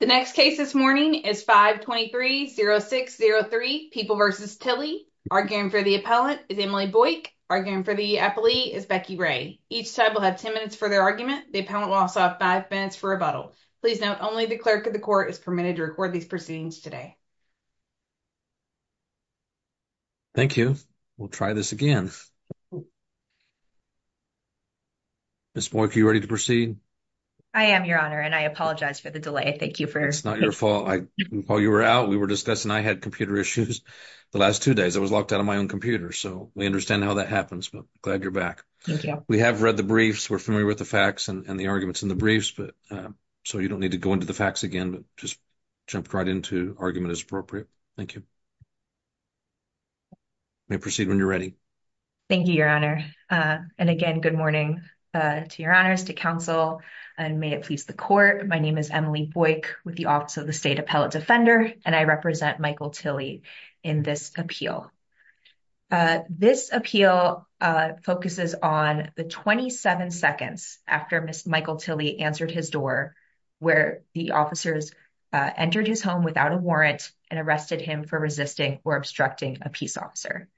The next case this morning is 523-0603, People v. Tilley. Arguing for the appellant is Emily Boyk. Arguing for the appellee is Becky Ray. Each side will have 10 minutes for their argument. The appellant will also have 5 minutes for rebuttal. Please note, only the clerk of the court is permitted to record these proceedings today. Thank you. We'll try this again. Ms. Boyk, are you ready to proceed? I am, Your Honor, and I apologize for the delay. Thank you. It's not your fault. While you were out, we were discussing. I had computer issues the last two days. I was locked out of my own computer, so we understand how that happens, but glad you're back. Thank you. We have read the briefs. We're familiar with the facts and the arguments in the briefs, but so you don't need to go into the facts again, but just jumped right into argument as appropriate. Thank you. You may proceed when you're ready. Thank you, Your Honor, and again, good morning to Your Honors, to counsel, and may it please the court. My name is Emily Boyk with the Office of the State Appellate Defender, and I represent Michael Tilley in this appeal. This appeal focuses on the 27 seconds after Ms. Michael Tilley answered his door, where the officers entered his home without a warrant and arrested him for resisting or obstructing a peace officer.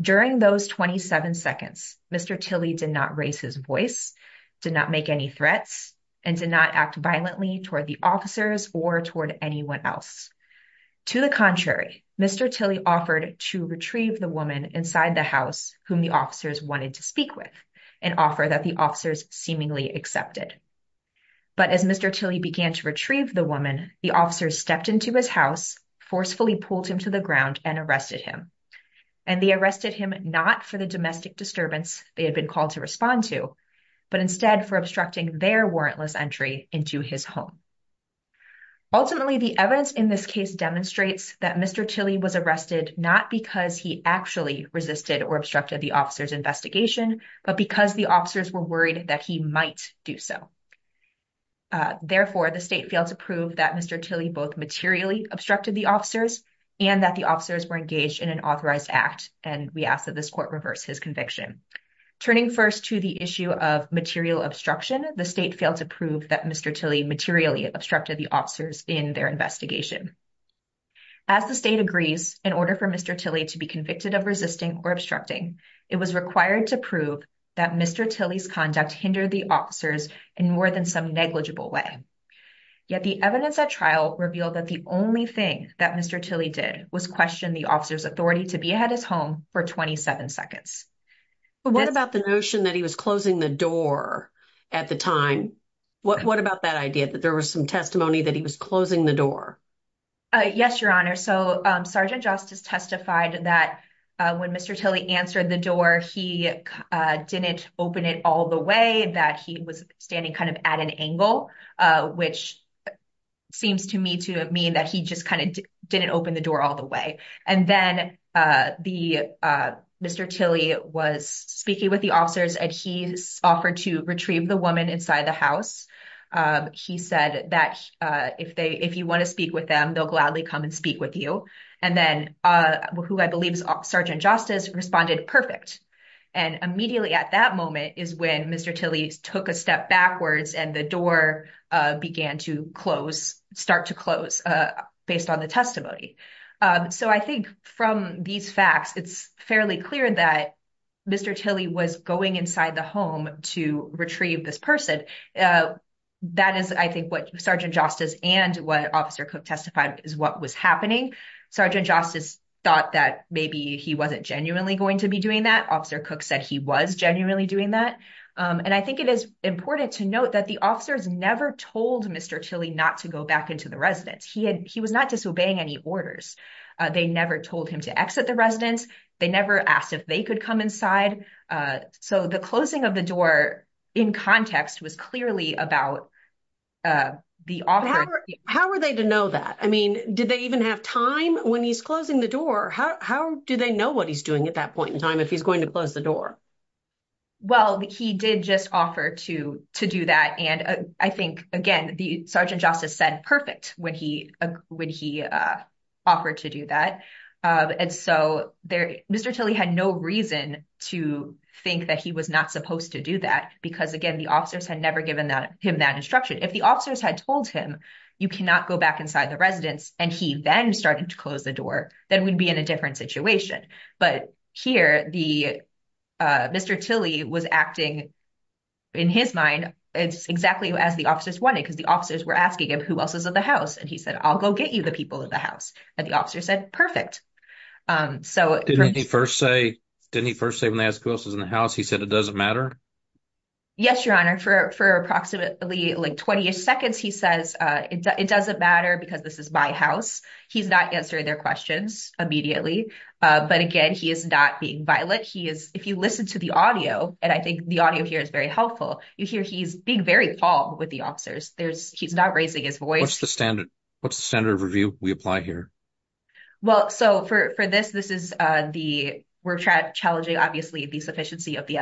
During those 27 seconds, Mr. Tilley did not raise his voice, did not make any threats, and did not act violently toward the officers or toward anyone else. To the contrary, Mr. Tilley offered to retrieve the woman inside the house whom the officers wanted to speak with, an offer that the officers seemingly accepted. But as Mr. Tilley began to retrieve the woman, the officers stepped into his house, forcefully pulled him to the ground, and arrested him. And they arrested him not for the domestic disturbance they had been called to respond to, but instead for obstructing their warrantless entry into his home. Ultimately, the evidence in this case demonstrates that Mr. Tilley was arrested not because he actually resisted or obstructed the officers' investigation, but because the officers were worried that he might do so. Therefore, the state failed to prove that Mr. Tilley both materially obstructed the officers and that the officers were engaged in an authorized act, and we ask that this court reverse his conviction. Turning first to the issue of material obstruction, the state failed to prove that Mr. Tilley materially obstructed the officers in their investigation. As the state agrees, in order for Mr. Tilley to be convicted of resisting or obstructing, it was required to prove that Mr. Tilley's conduct hindered the officers in more than some negligible way. Yet the evidence at trial revealed that the only thing that Mr. Tilley did was question the officers' authority to be at his home for 27 seconds. But what about the notion that he was closing the door at the time? What about that idea that there was some testimony that he was closing the door? Yes, Your Honor. So, Sergeant Justice testified that when Mr. Tilley answered the door, he didn't open it all the way, that he was standing kind of at an angle, which seems to me to mean that he just kind of didn't open the door all the way. And then Mr. Tilley was speaking with the officers, and he offered to retrieve the woman inside the house. He said that if you want to speak with them, they'll gladly come and speak with you. And then, who I believe is Sergeant Justice responded, perfect. And immediately at that moment is when Mr. Tilley took a step backwards and the door began to close, start to close, based on the testimony. So, I think from these facts, it's fairly clear that Mr. Tilley was going inside the home to retrieve this person. That is, I think, what Sergeant Justice and what Officer Cook testified is what was happening. Sergeant Justice thought that maybe he wasn't genuinely going to be doing that. Officer Cook said he was genuinely doing that. And I think it is important to note that the officers never told Mr. Tilley not to go back into the residence. He was not disobeying any orders. They never told him to exit the residence. They never asked if they could come inside. So, the closing of the door in context was clearly about the officer. How were they to know that? I mean, did they even have time when he's closing the door? How do they know what he's doing at that point in time if he's going to close the door? Well, he did just offer to do that. And I think, again, the Sergeant Justice said perfect when he offered to do that. And so, Mr. Tilley had no reason to think that he was not supposed to do that. Because again, the officers had never given him that instruction. If the officers had told him, you cannot go back inside the residence, and he then started to close the door, then we'd be in a different situation. But here, Mr. Tilley was acting, in his mind, exactly as the officers wanted, because the officers were asking him who else is in the house. And he said, I'll go get you the people in the house. And the officer said, perfect. Didn't he first say when they asked who else was in the house, he said it doesn't matter? Yes, Your Honor. For approximately like 20 seconds, he says, it doesn't matter because this is my house. He's not answering their questions immediately. But again, he is not being violent. If you listen to the audio, and I think the audio here is very helpful, you hear he's being very calm with the officers. He's not raising his voice. What's the standard? What's the standard of review we apply here? Well, so for this, we're challenging, obviously, the sufficiency of the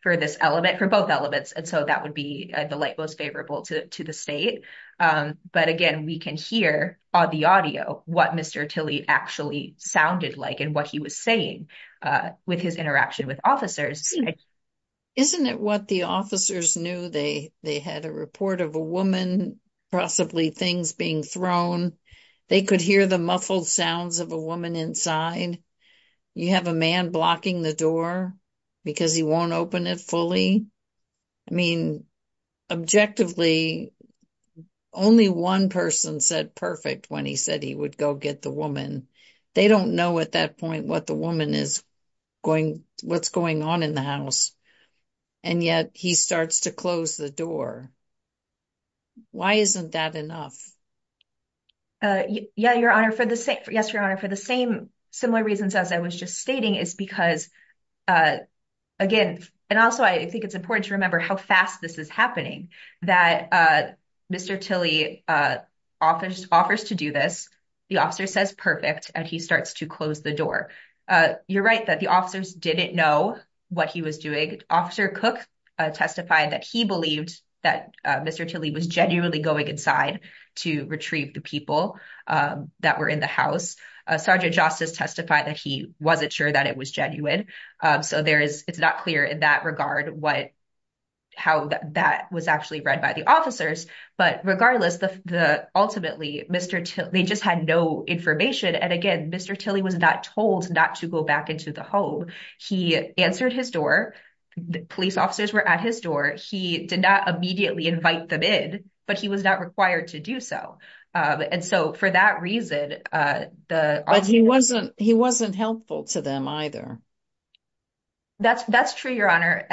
for this element, for both elements. And so that would be the light most favorable to the state. But again, we can hear on the audio, what Mr. Tilley actually sounded like and what he was saying, with his interaction with Isn't it what the officers knew? They had a report of a woman, possibly things being thrown. They could hear the muffled sounds of a woman inside. You have a man blocking the door, because he won't open it fully. I mean, objectively, only one person said perfect when he said he would go get the woman. They don't know at that point what the woman is going, what's going on in the house. And yet he starts to close the door. Why isn't that enough? Yeah, Your Honor, for the same, yes, Your Honor, for the same, similar reasons, as I was just stating is because, again, and also, I think it's important to remember how fast this is happening, that Mr. Tilley offers to do this, the officer says perfect, and he starts to close the door. You're right that the officers didn't know what he was doing. Officer Cook testified that he believed that Mr. Tilley was genuinely going inside to retrieve the people that were in the house. Sergeant Justice testified that he wasn't sure that it was genuine. So it's not clear in that regard how that was actually read by the officers. But regardless, ultimately, they just had no information. And again, Mr. Tilley was not told not to go back into the home. He answered his door. Police officers were at his door. He did not immediately invite them in, but he was not required to do so. And so for that reason, the- But he wasn't, he wasn't helpful to them either. That's, that's true, Your Honor.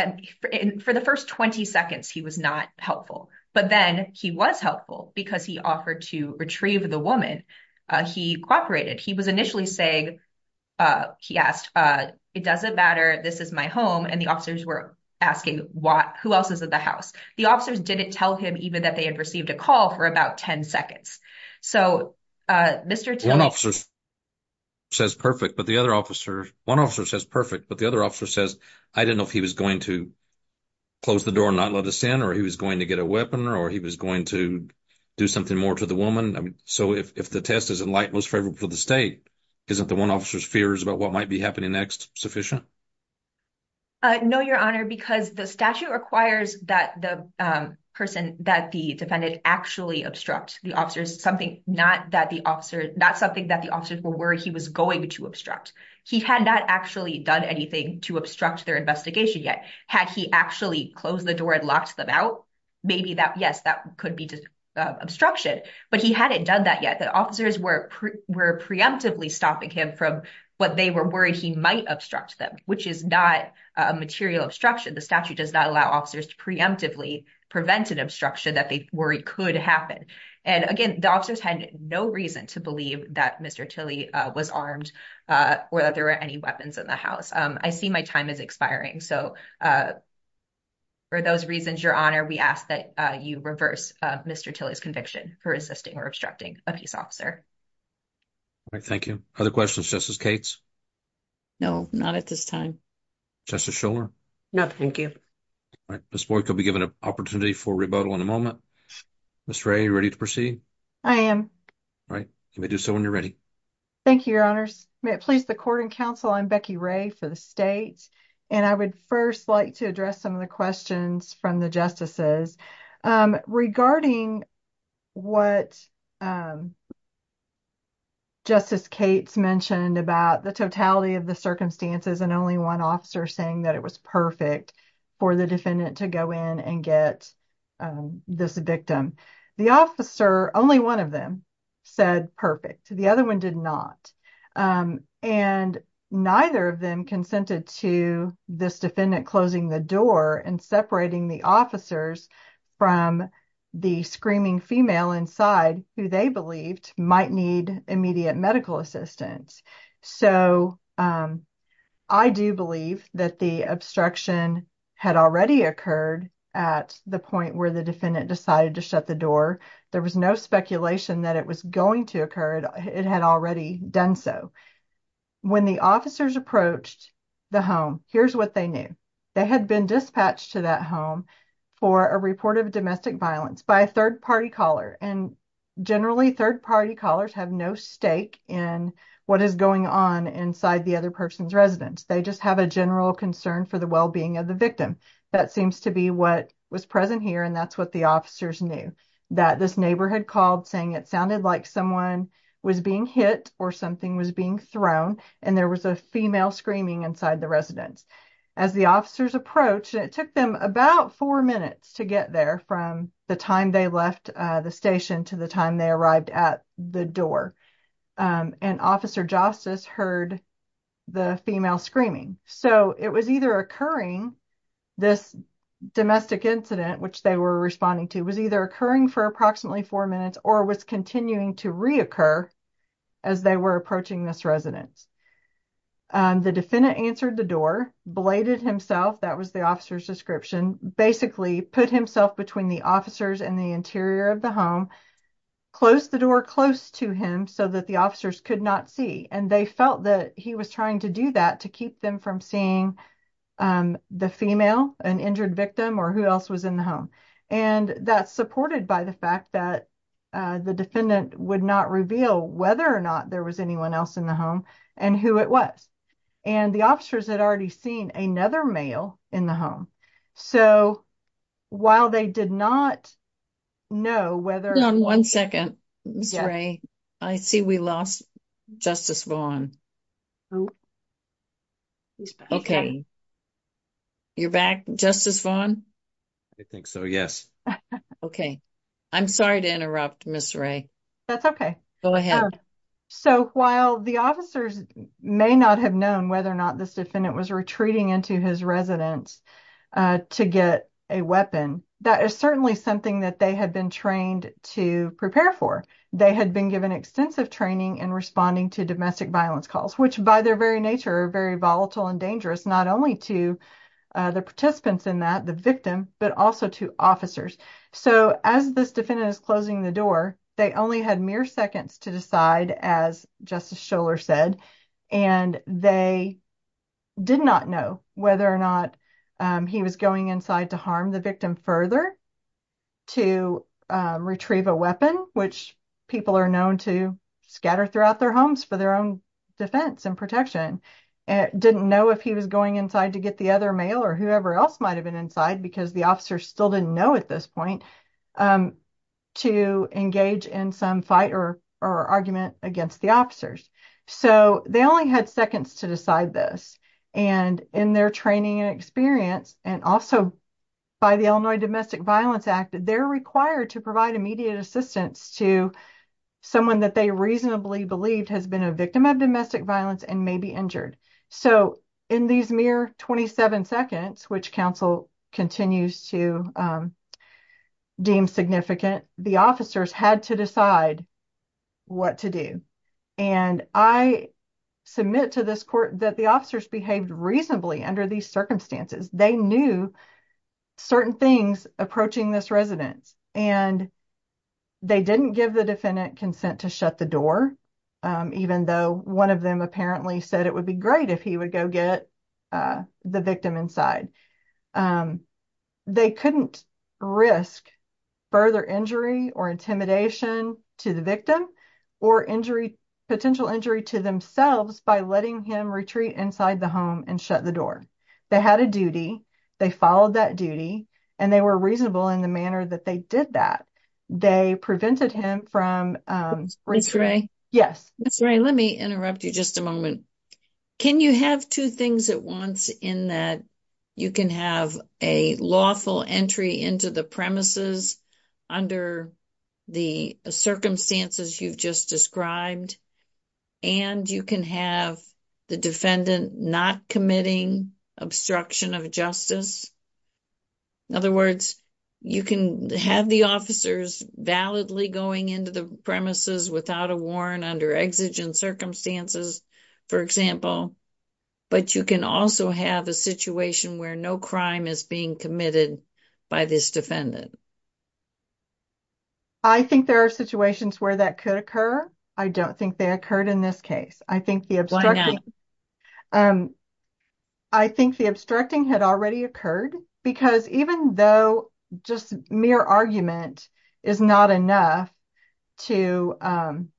And for the first 20 seconds, he was not helpful. But then he was helpful because he offered to retrieve the woman. He cooperated. He was initially saying, he asked, it doesn't matter. This is my home. And the officers were asking what, who else is at the house? The officers didn't tell him even that they had received a call for about 10 seconds. So, uh, Mr. Tilley- One officer says perfect, but the other officer, one officer says perfect, but the other officer says, I didn't know if he was going to close the door and not let us in, or he was going to get a weapon, or he was going to do something more to the woman. So if the test is in light, most favorable to the state, isn't the one officer's fears about what might be happening next sufficient? No, Your Honor, because the statute requires that the person, that the defendant actually obstruct the officers, something not that the officer, not something that the officers were worried he was going to obstruct. He had not actually done anything to obstruct their investigation yet. Had he actually closed the door and locked them out? Maybe that, yes, that could be obstruction, but he hadn't done that yet. The officers were, were preemptively stopping him from what they were worried he might obstruct them, which is not a material obstruction. The statute does not allow officers to preemptively prevent an obstruction that they worried could happen. And again, the officers had no reason to believe that Mr. Tilley was armed, uh, or that there were any weapons in the house. Um, I see my time is expiring. So, uh, for those reasons, Your Honor, we ask that you reverse Mr. Tilley's conviction for assisting or obstructing a peace officer. All right. Thank you. Other questions? Justice Cates? No, not at this time. Justice Shuler? No, thank you. All right. Ms. Boyk, you'll be given an opportunity for rebuttal in a moment. Ms. Ray, you ready to proceed? I am. All right. You may do so when you're ready. Thank you, Your Honors. May it please the court and counsel, I'm Becky Ray for the state, and I would first like to address some of the questions from the justices, um, regarding what, um, Justice Cates mentioned about the totality of the circumstances and only one officer saying that it was perfect for the defendant to go in and get, um, this victim. The officer, only one of them said perfect. The other one did not. Um, and neither of them consented to this defendant closing the door and separating the officers from the screaming female inside who they believed might need immediate medical assistance. So, um, I do believe that the obstruction had already occurred at the point where the defendant decided to shut the door. There was no speculation that it was going to occur. It had already done so. When the officers approached the home, here's what they knew. They had been dispatched to that home for a report of domestic violence by a third party caller. And generally, third party callers have no stake in what is going on inside the other person's residence. They just have a general concern for the well being of the victim. That seems to be what was present here. And that's what the officers knew that this neighborhood called saying it sounded like someone was being hit or something was being thrown. And there was a female screaming inside the residence. As the officers approached, it took them about four minutes to get there from the time they left the station to the time they arrived at the door. Um, and Officer Justice heard the female screaming. So it was either occurring this domestic incident, which they were responding to, was either occurring for approximately four minutes or was continuing to reoccur as they were approaching this residence. The defendant answered the door, bladed himself, that was the officer's description, basically put himself between the officers and the interior of the home, closed the door close to him so that the officers could not see. And they felt that he was trying to do that to keep them from seeing the female, an injured victim or who else was in the home. And that's supported by the fact that, uh, the defendant would not reveal whether or not there was anyone else in the home and who it was. And the officers had already seen another male in the home. So while they did not know whether one second Ray, I see we lost Justice Vaughn. Oh, he's okay. You're back, Justice Vaughn. I think so. Yes. Okay. I'm sorry to interrupt Miss Ray. That's okay. Go ahead. So while the officers may not have known whether or not this defendant was retreating into his residence, uh, to get a weapon, that is certainly something that they had been trained to prepare for. They had been given extensive training and responding to domestic violence calls, which by their very nature, very volatile and dangerous, not only to the participants in that the victim, but also to officers. So as this defendant is closing the door, they only had mere seconds to decide, as Justice Scholar said, and they did not know whether or not he was going inside to harm the victim further to retrieve a weapon, which people are known to scatter throughout their homes for their own defense and protection. Didn't know if he was going inside to get the other male or whoever else might have been inside because the officers still didn't know at this point, um, to engage in some fight or argument against the officers. So they only had seconds to decide this and in their training and experience and also by the Illinois Domestic Violence Act, they're required to provide immediate assistance to someone that they reasonably believed has been a victim of domestic violence and may be injured. So in these mere 27 seconds, which counsel continues to, um, deem significant, the officers had to decide what to do. And I submit to this court that the officers behaved reasonably under these circumstances. They knew certain things approaching this residence and they didn't give the defendant consent to shut the door, um, even though one of them apparently said it would be great if he would go get, uh, the victim inside. Um, they couldn't risk further injury or intimidation to the victim or injury, potential injury to themselves by letting him retreat inside the home and shut the door. They had a duty. They followed that duty and they were reasonable in the manner that they did that. They prevented him from, um, yes, that's right. Let me interrupt you just a moment. Can you have two things at once in that you can have a lawful entry into the premises under the circumstances you've just described and you can have the defendant not committing obstruction of justice. In other words, you can have the officers validly going into the premises without a warrant under exigent circumstances, for example, but you can also have a situation where no crime is being committed by this defendant. I think there are situations where that could occur. I don't think they occurred in this case. I think the obstruction, um, I think the obstructing had already occurred because even though just mere argument is not enough to, um,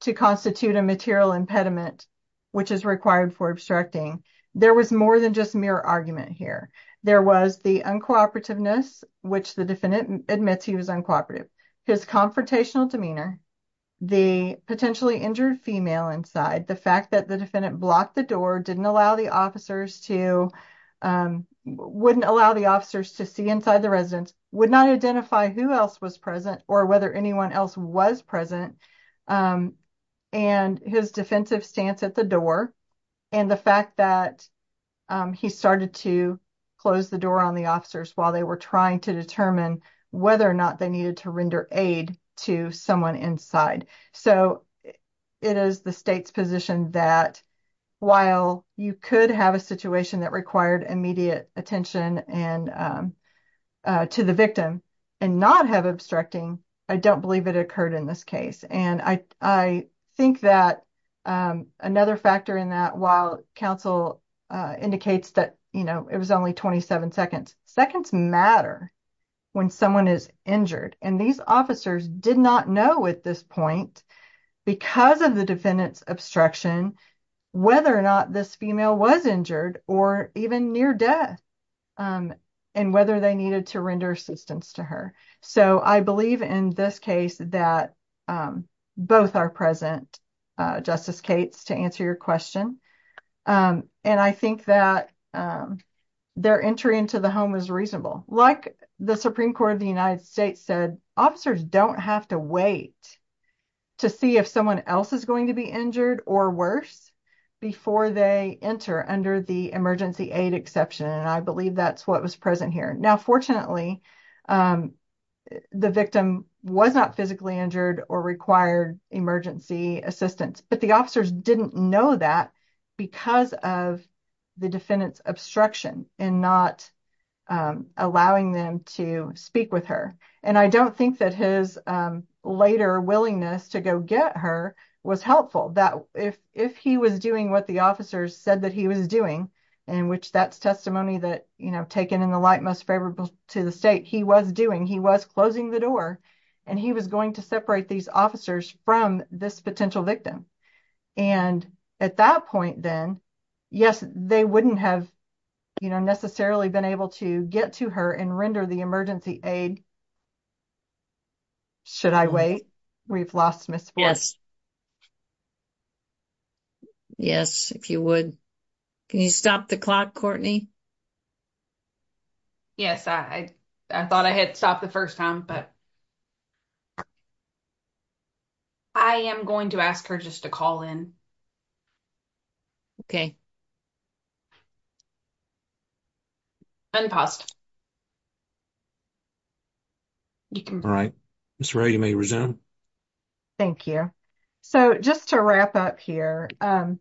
to constitute a material impediment, which is required for obstructing, there was more than just mere argument here. There was the uncooperativeness, which the defendant admits he was uncooperative, his confrontational demeanor, the potentially injured female inside, the fact that the defendant blocked the door didn't allow the officers to, um, wouldn't allow the officers to see inside the residence, would not identify who else was present or whether anyone else was present, um, and his defensive stance at the door and the fact that, um, he started to close the door on the officers while they were trying to determine whether or not they needed to render aid to someone inside. So, it is the state's position that while you could have a situation that required immediate attention and, um, uh, to the victim and not have obstructing, I don't believe it occurred in this case. And I, I think that, um, another factor in that while counsel, uh, indicates that, you know, it was only 27 seconds. Seconds matter when someone is injured and these officers did not know at this point, because of the defendant's obstruction, whether or not this female was injured or even near death, um, and whether they needed to render assistance to her. So, I believe in this case that, um, both are present, uh, Justice Cates, to answer your question, um, and I think that, um, their entry into the home is reasonable. Like the Supreme Court of the United States said, officers don't have to wait to see if someone else is going to be injured or worse before they enter under the emergency aid exception, and I believe that's what was present here. Now, fortunately, um, the victim was not physically injured or required emergency assistance, but the officers didn't know that because of the defendant's obstruction and not, um, allowing them to speak with her. And I don't think that his, um, later willingness to go get her was helpful. That if, if he was doing what the officers said that he was doing, and which that's testimony that, you know, taken in the light most favorable to the state, he was doing, he was closing the door and he was going to separate these officers from this potential victim. And at that point then, yes, they wouldn't have, you know, necessarily been able to get to her and render the emergency aid. Should I wait? We've lost Ms. Boyle. Yes. Yes, if you would. Can you stop the clock, Courtney? Yes, I thought I had stopped the first time, but I am going to ask her just to call in. Okay. Unpaused. All right. Ms. Ray, you may resume. Thank you. So, just to wrap up here, um,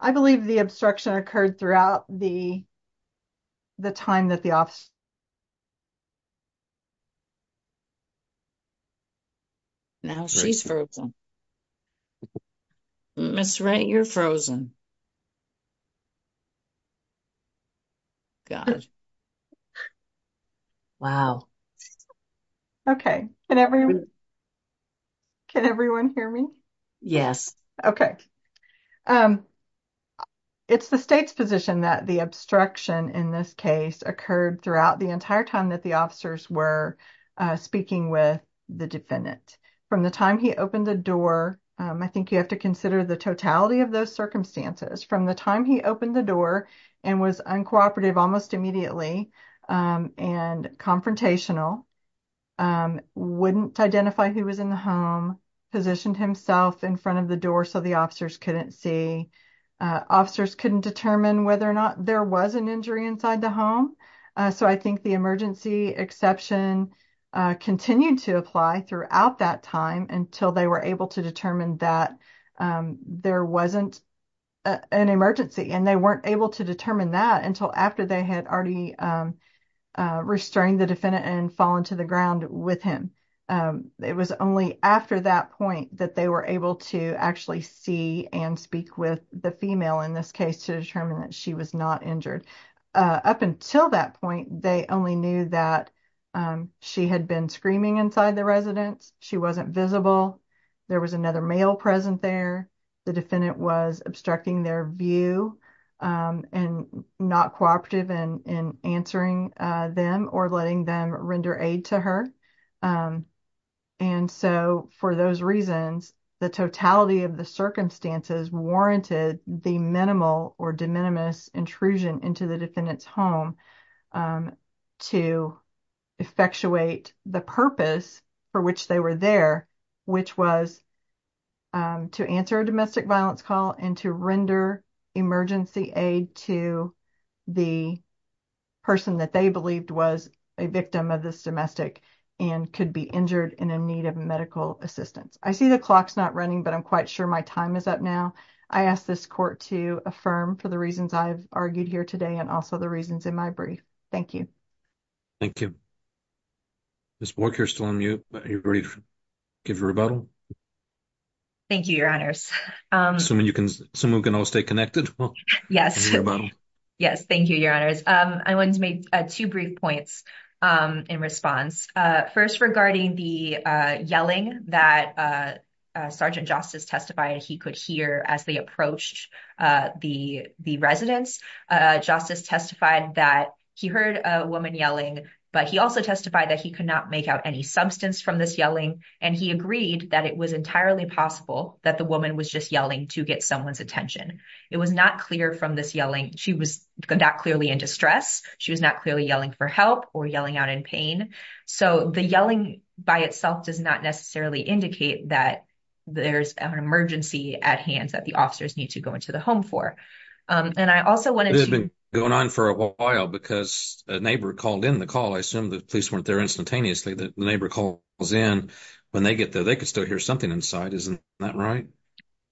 I believe the obstruction occurred throughout the, the time that the office... Now she's frozen. Ms. Ray, you're frozen. Gosh. Wow. Okay. Can everyone hear me? Yes. Okay. It's the state's position that the obstruction in this case occurred throughout the entire time that the officers were speaking with the defendant. From the time he opened the door, I think you have to consider the totality of those circumstances. From the time he opened the door and was uncooperative almost immediately and confrontational, wouldn't identify who was in the home, positioned himself in front of the door so the officers couldn't see. Officers couldn't determine whether or not there was an injury inside the home. So, I think the emergency exception continued to apply throughout that time until they were able to determine that there wasn't an emergency. And they weren't able to determine that until after they had already restrained the defendant and fallen to the ground with him. It was only after that point that they were able to actually see and speak with the female in this case to determine that she was not injured. Up until that point, they only knew that she had been screaming inside the residence. She wasn't visible. There was another male present there. The defendant was obstructing their view and not cooperative in answering them or letting them render aid to her. And so, for those reasons, the totality of the circumstances warranted the minimal or de minimis intrusion into the defendant's home to effectuate the purpose for which they were there, which was to answer a domestic violence call and to render emergency aid to the person that they believed was a victim of this domestic and could be injured and in need of medical assistance. I see the clock's not running, but I'm quite sure my time is up now. I ask this court to affirm for the reasons I've argued here today and also the reasons in my brief. Thank you. Thank you. Ms. Bork, you're still on mute, but are you ready to give your rebuttal? Thank you, Your Honors. Assuming we can all stay connected. Yes. Yes. Thank you, Your Honors. I wanted to make two brief points in response. First, regarding the yelling that Sergeant Justice testified he could hear as they approached the residence. Justice testified that he heard a woman yelling, but he also testified that he could not make out any substance from this yelling, and he agreed that it was entirely possible that the woman was just yelling to get someone's attention. It was not clear from this yelling. She was not clearly in distress. She was not clearly yelling for help or yelling out in pain. So the yelling by itself does not necessarily indicate that there's an emergency at hand that the officers need to go into the home for. And I also wanted to – This has been going on for a while because a neighbor called in the call. I assume the police weren't there instantaneously. The neighbor calls in. When they get there, they could still hear something inside. Isn't that right?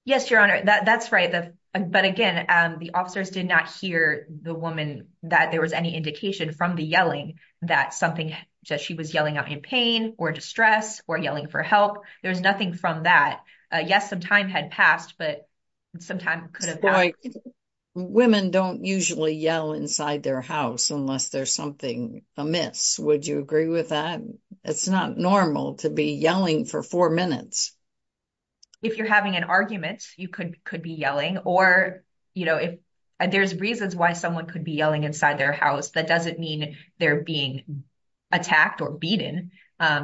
Yes, Your Honor. That's right. But, again, the officers did not hear the woman that there was any indication from the yelling that something – that she was yelling out in pain or distress or yelling for help. There was nothing from that. Yes, some time had passed, but some time could have passed. Boy, women don't usually yell inside their house unless there's something amiss. Would you agree with that? It's not normal to be yelling for four minutes. If you're having an argument, you could be yelling. Or, you know, if there's reasons why someone could be yelling inside their house, that doesn't mean they're being attacked or beaten,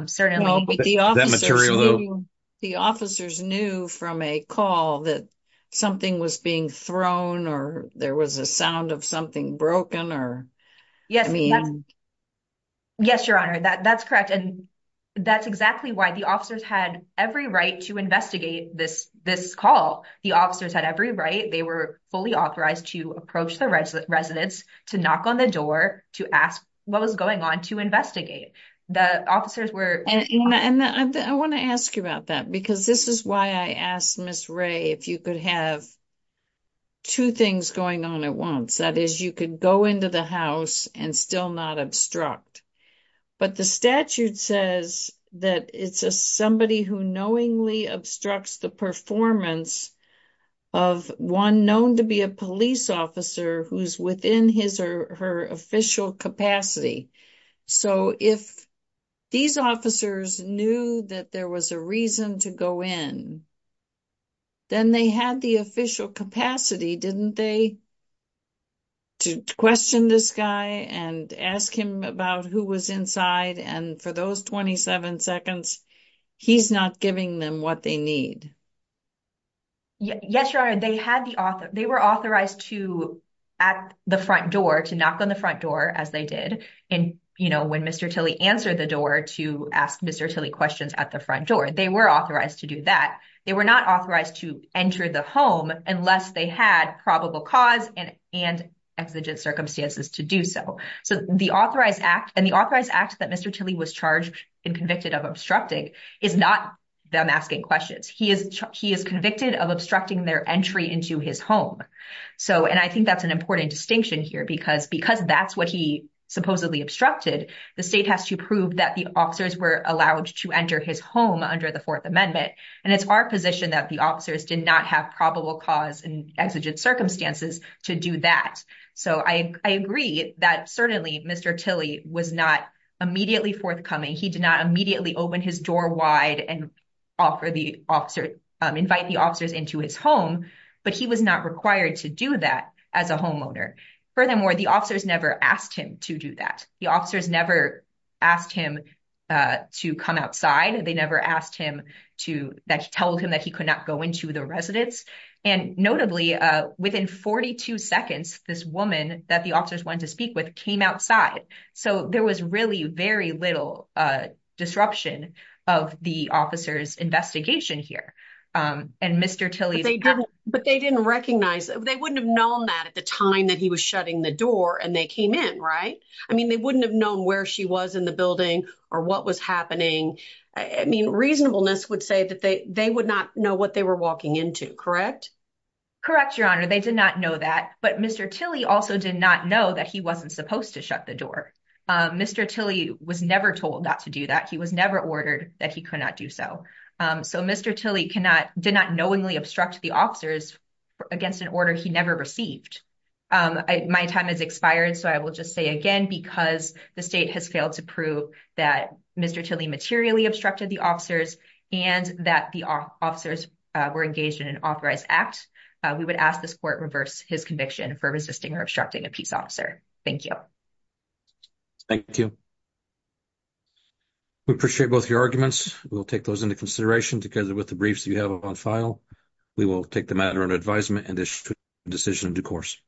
certainly. Well, but the officers – That material – The officers knew from a call that something was being thrown or there was a sound of something broken or – Yes. Yes, Your Honor. That's correct. And that's exactly why the officers had every right to investigate this call. The officers had every right. They were fully authorized to approach the residents, to knock on the door, to ask what was going on, to investigate. The officers were – And I want to ask you about that because this is why I asked Ms. Ray if you could have two things going on at once. That is, you could go into the house and still not obstruct. But the statute says that it's somebody who knowingly obstructs the performance of one known to be a police officer who's within his or her official capacity. So if these officers knew that there was a reason to go in, then they had the official capacity, didn't they? To question this guy and ask him about who was inside. And for those 27 seconds, he's not giving them what they need. Yes, Your Honor. They had the – They were authorized to at the front door, to knock on the front door, as they did when Mr. Tilley answered the door to ask Mr. Tilley questions at the front door. They were authorized to do that. They were not authorized to enter the home unless they had probable cause and exigent circumstances to do so. And the authorized act that Mr. Tilley was charged and convicted of obstructing is not them asking questions. He is convicted of obstructing their entry into his home. And I think that's an important distinction here because that's what he supposedly obstructed. The state has to prove that the officers were allowed to enter his home under the Fourth Amendment. And it's our position that the officers did not have probable cause and exigent circumstances to do that. So I agree that certainly Mr. Tilley was not immediately forthcoming. He did not immediately open his door wide and invite the officers into his home. But he was not required to do that as a homeowner. Furthermore, the officers never asked him to do that. The officers never asked him to come outside. They never asked him to tell him that he could not go into the residence. And notably, within 42 seconds, this woman that the officers wanted to speak with came outside. So there was really very little disruption of the officers' investigation here. And Mr. Tilley's- But they didn't recognize. They wouldn't have known that at the time that he was shutting the door and they came in, right? I mean, they wouldn't have known where she was in the building or what was happening. I mean, reasonableness would say that they would not know what they were walking into, correct? Correct, Your Honor. They did not know that. But Mr. Tilley also did not know that he wasn't supposed to shut the door. Mr. Tilley was never told not to do that. He was never ordered that he could not do so. So Mr. Tilley did not knowingly obstruct the officers against an order he never received. My time has expired. So I will just say again, because the state has failed to prove that Mr. Tilley materially obstructed the officers and that the officers were engaged in an authorized act, we would ask this court reverse his conviction for resisting or obstructing a peace officer. Thank you. Thank you. We appreciate both your arguments. We'll take those into consideration together with the briefs you have on file. We will take the matter under advisement and issue a decision in due course.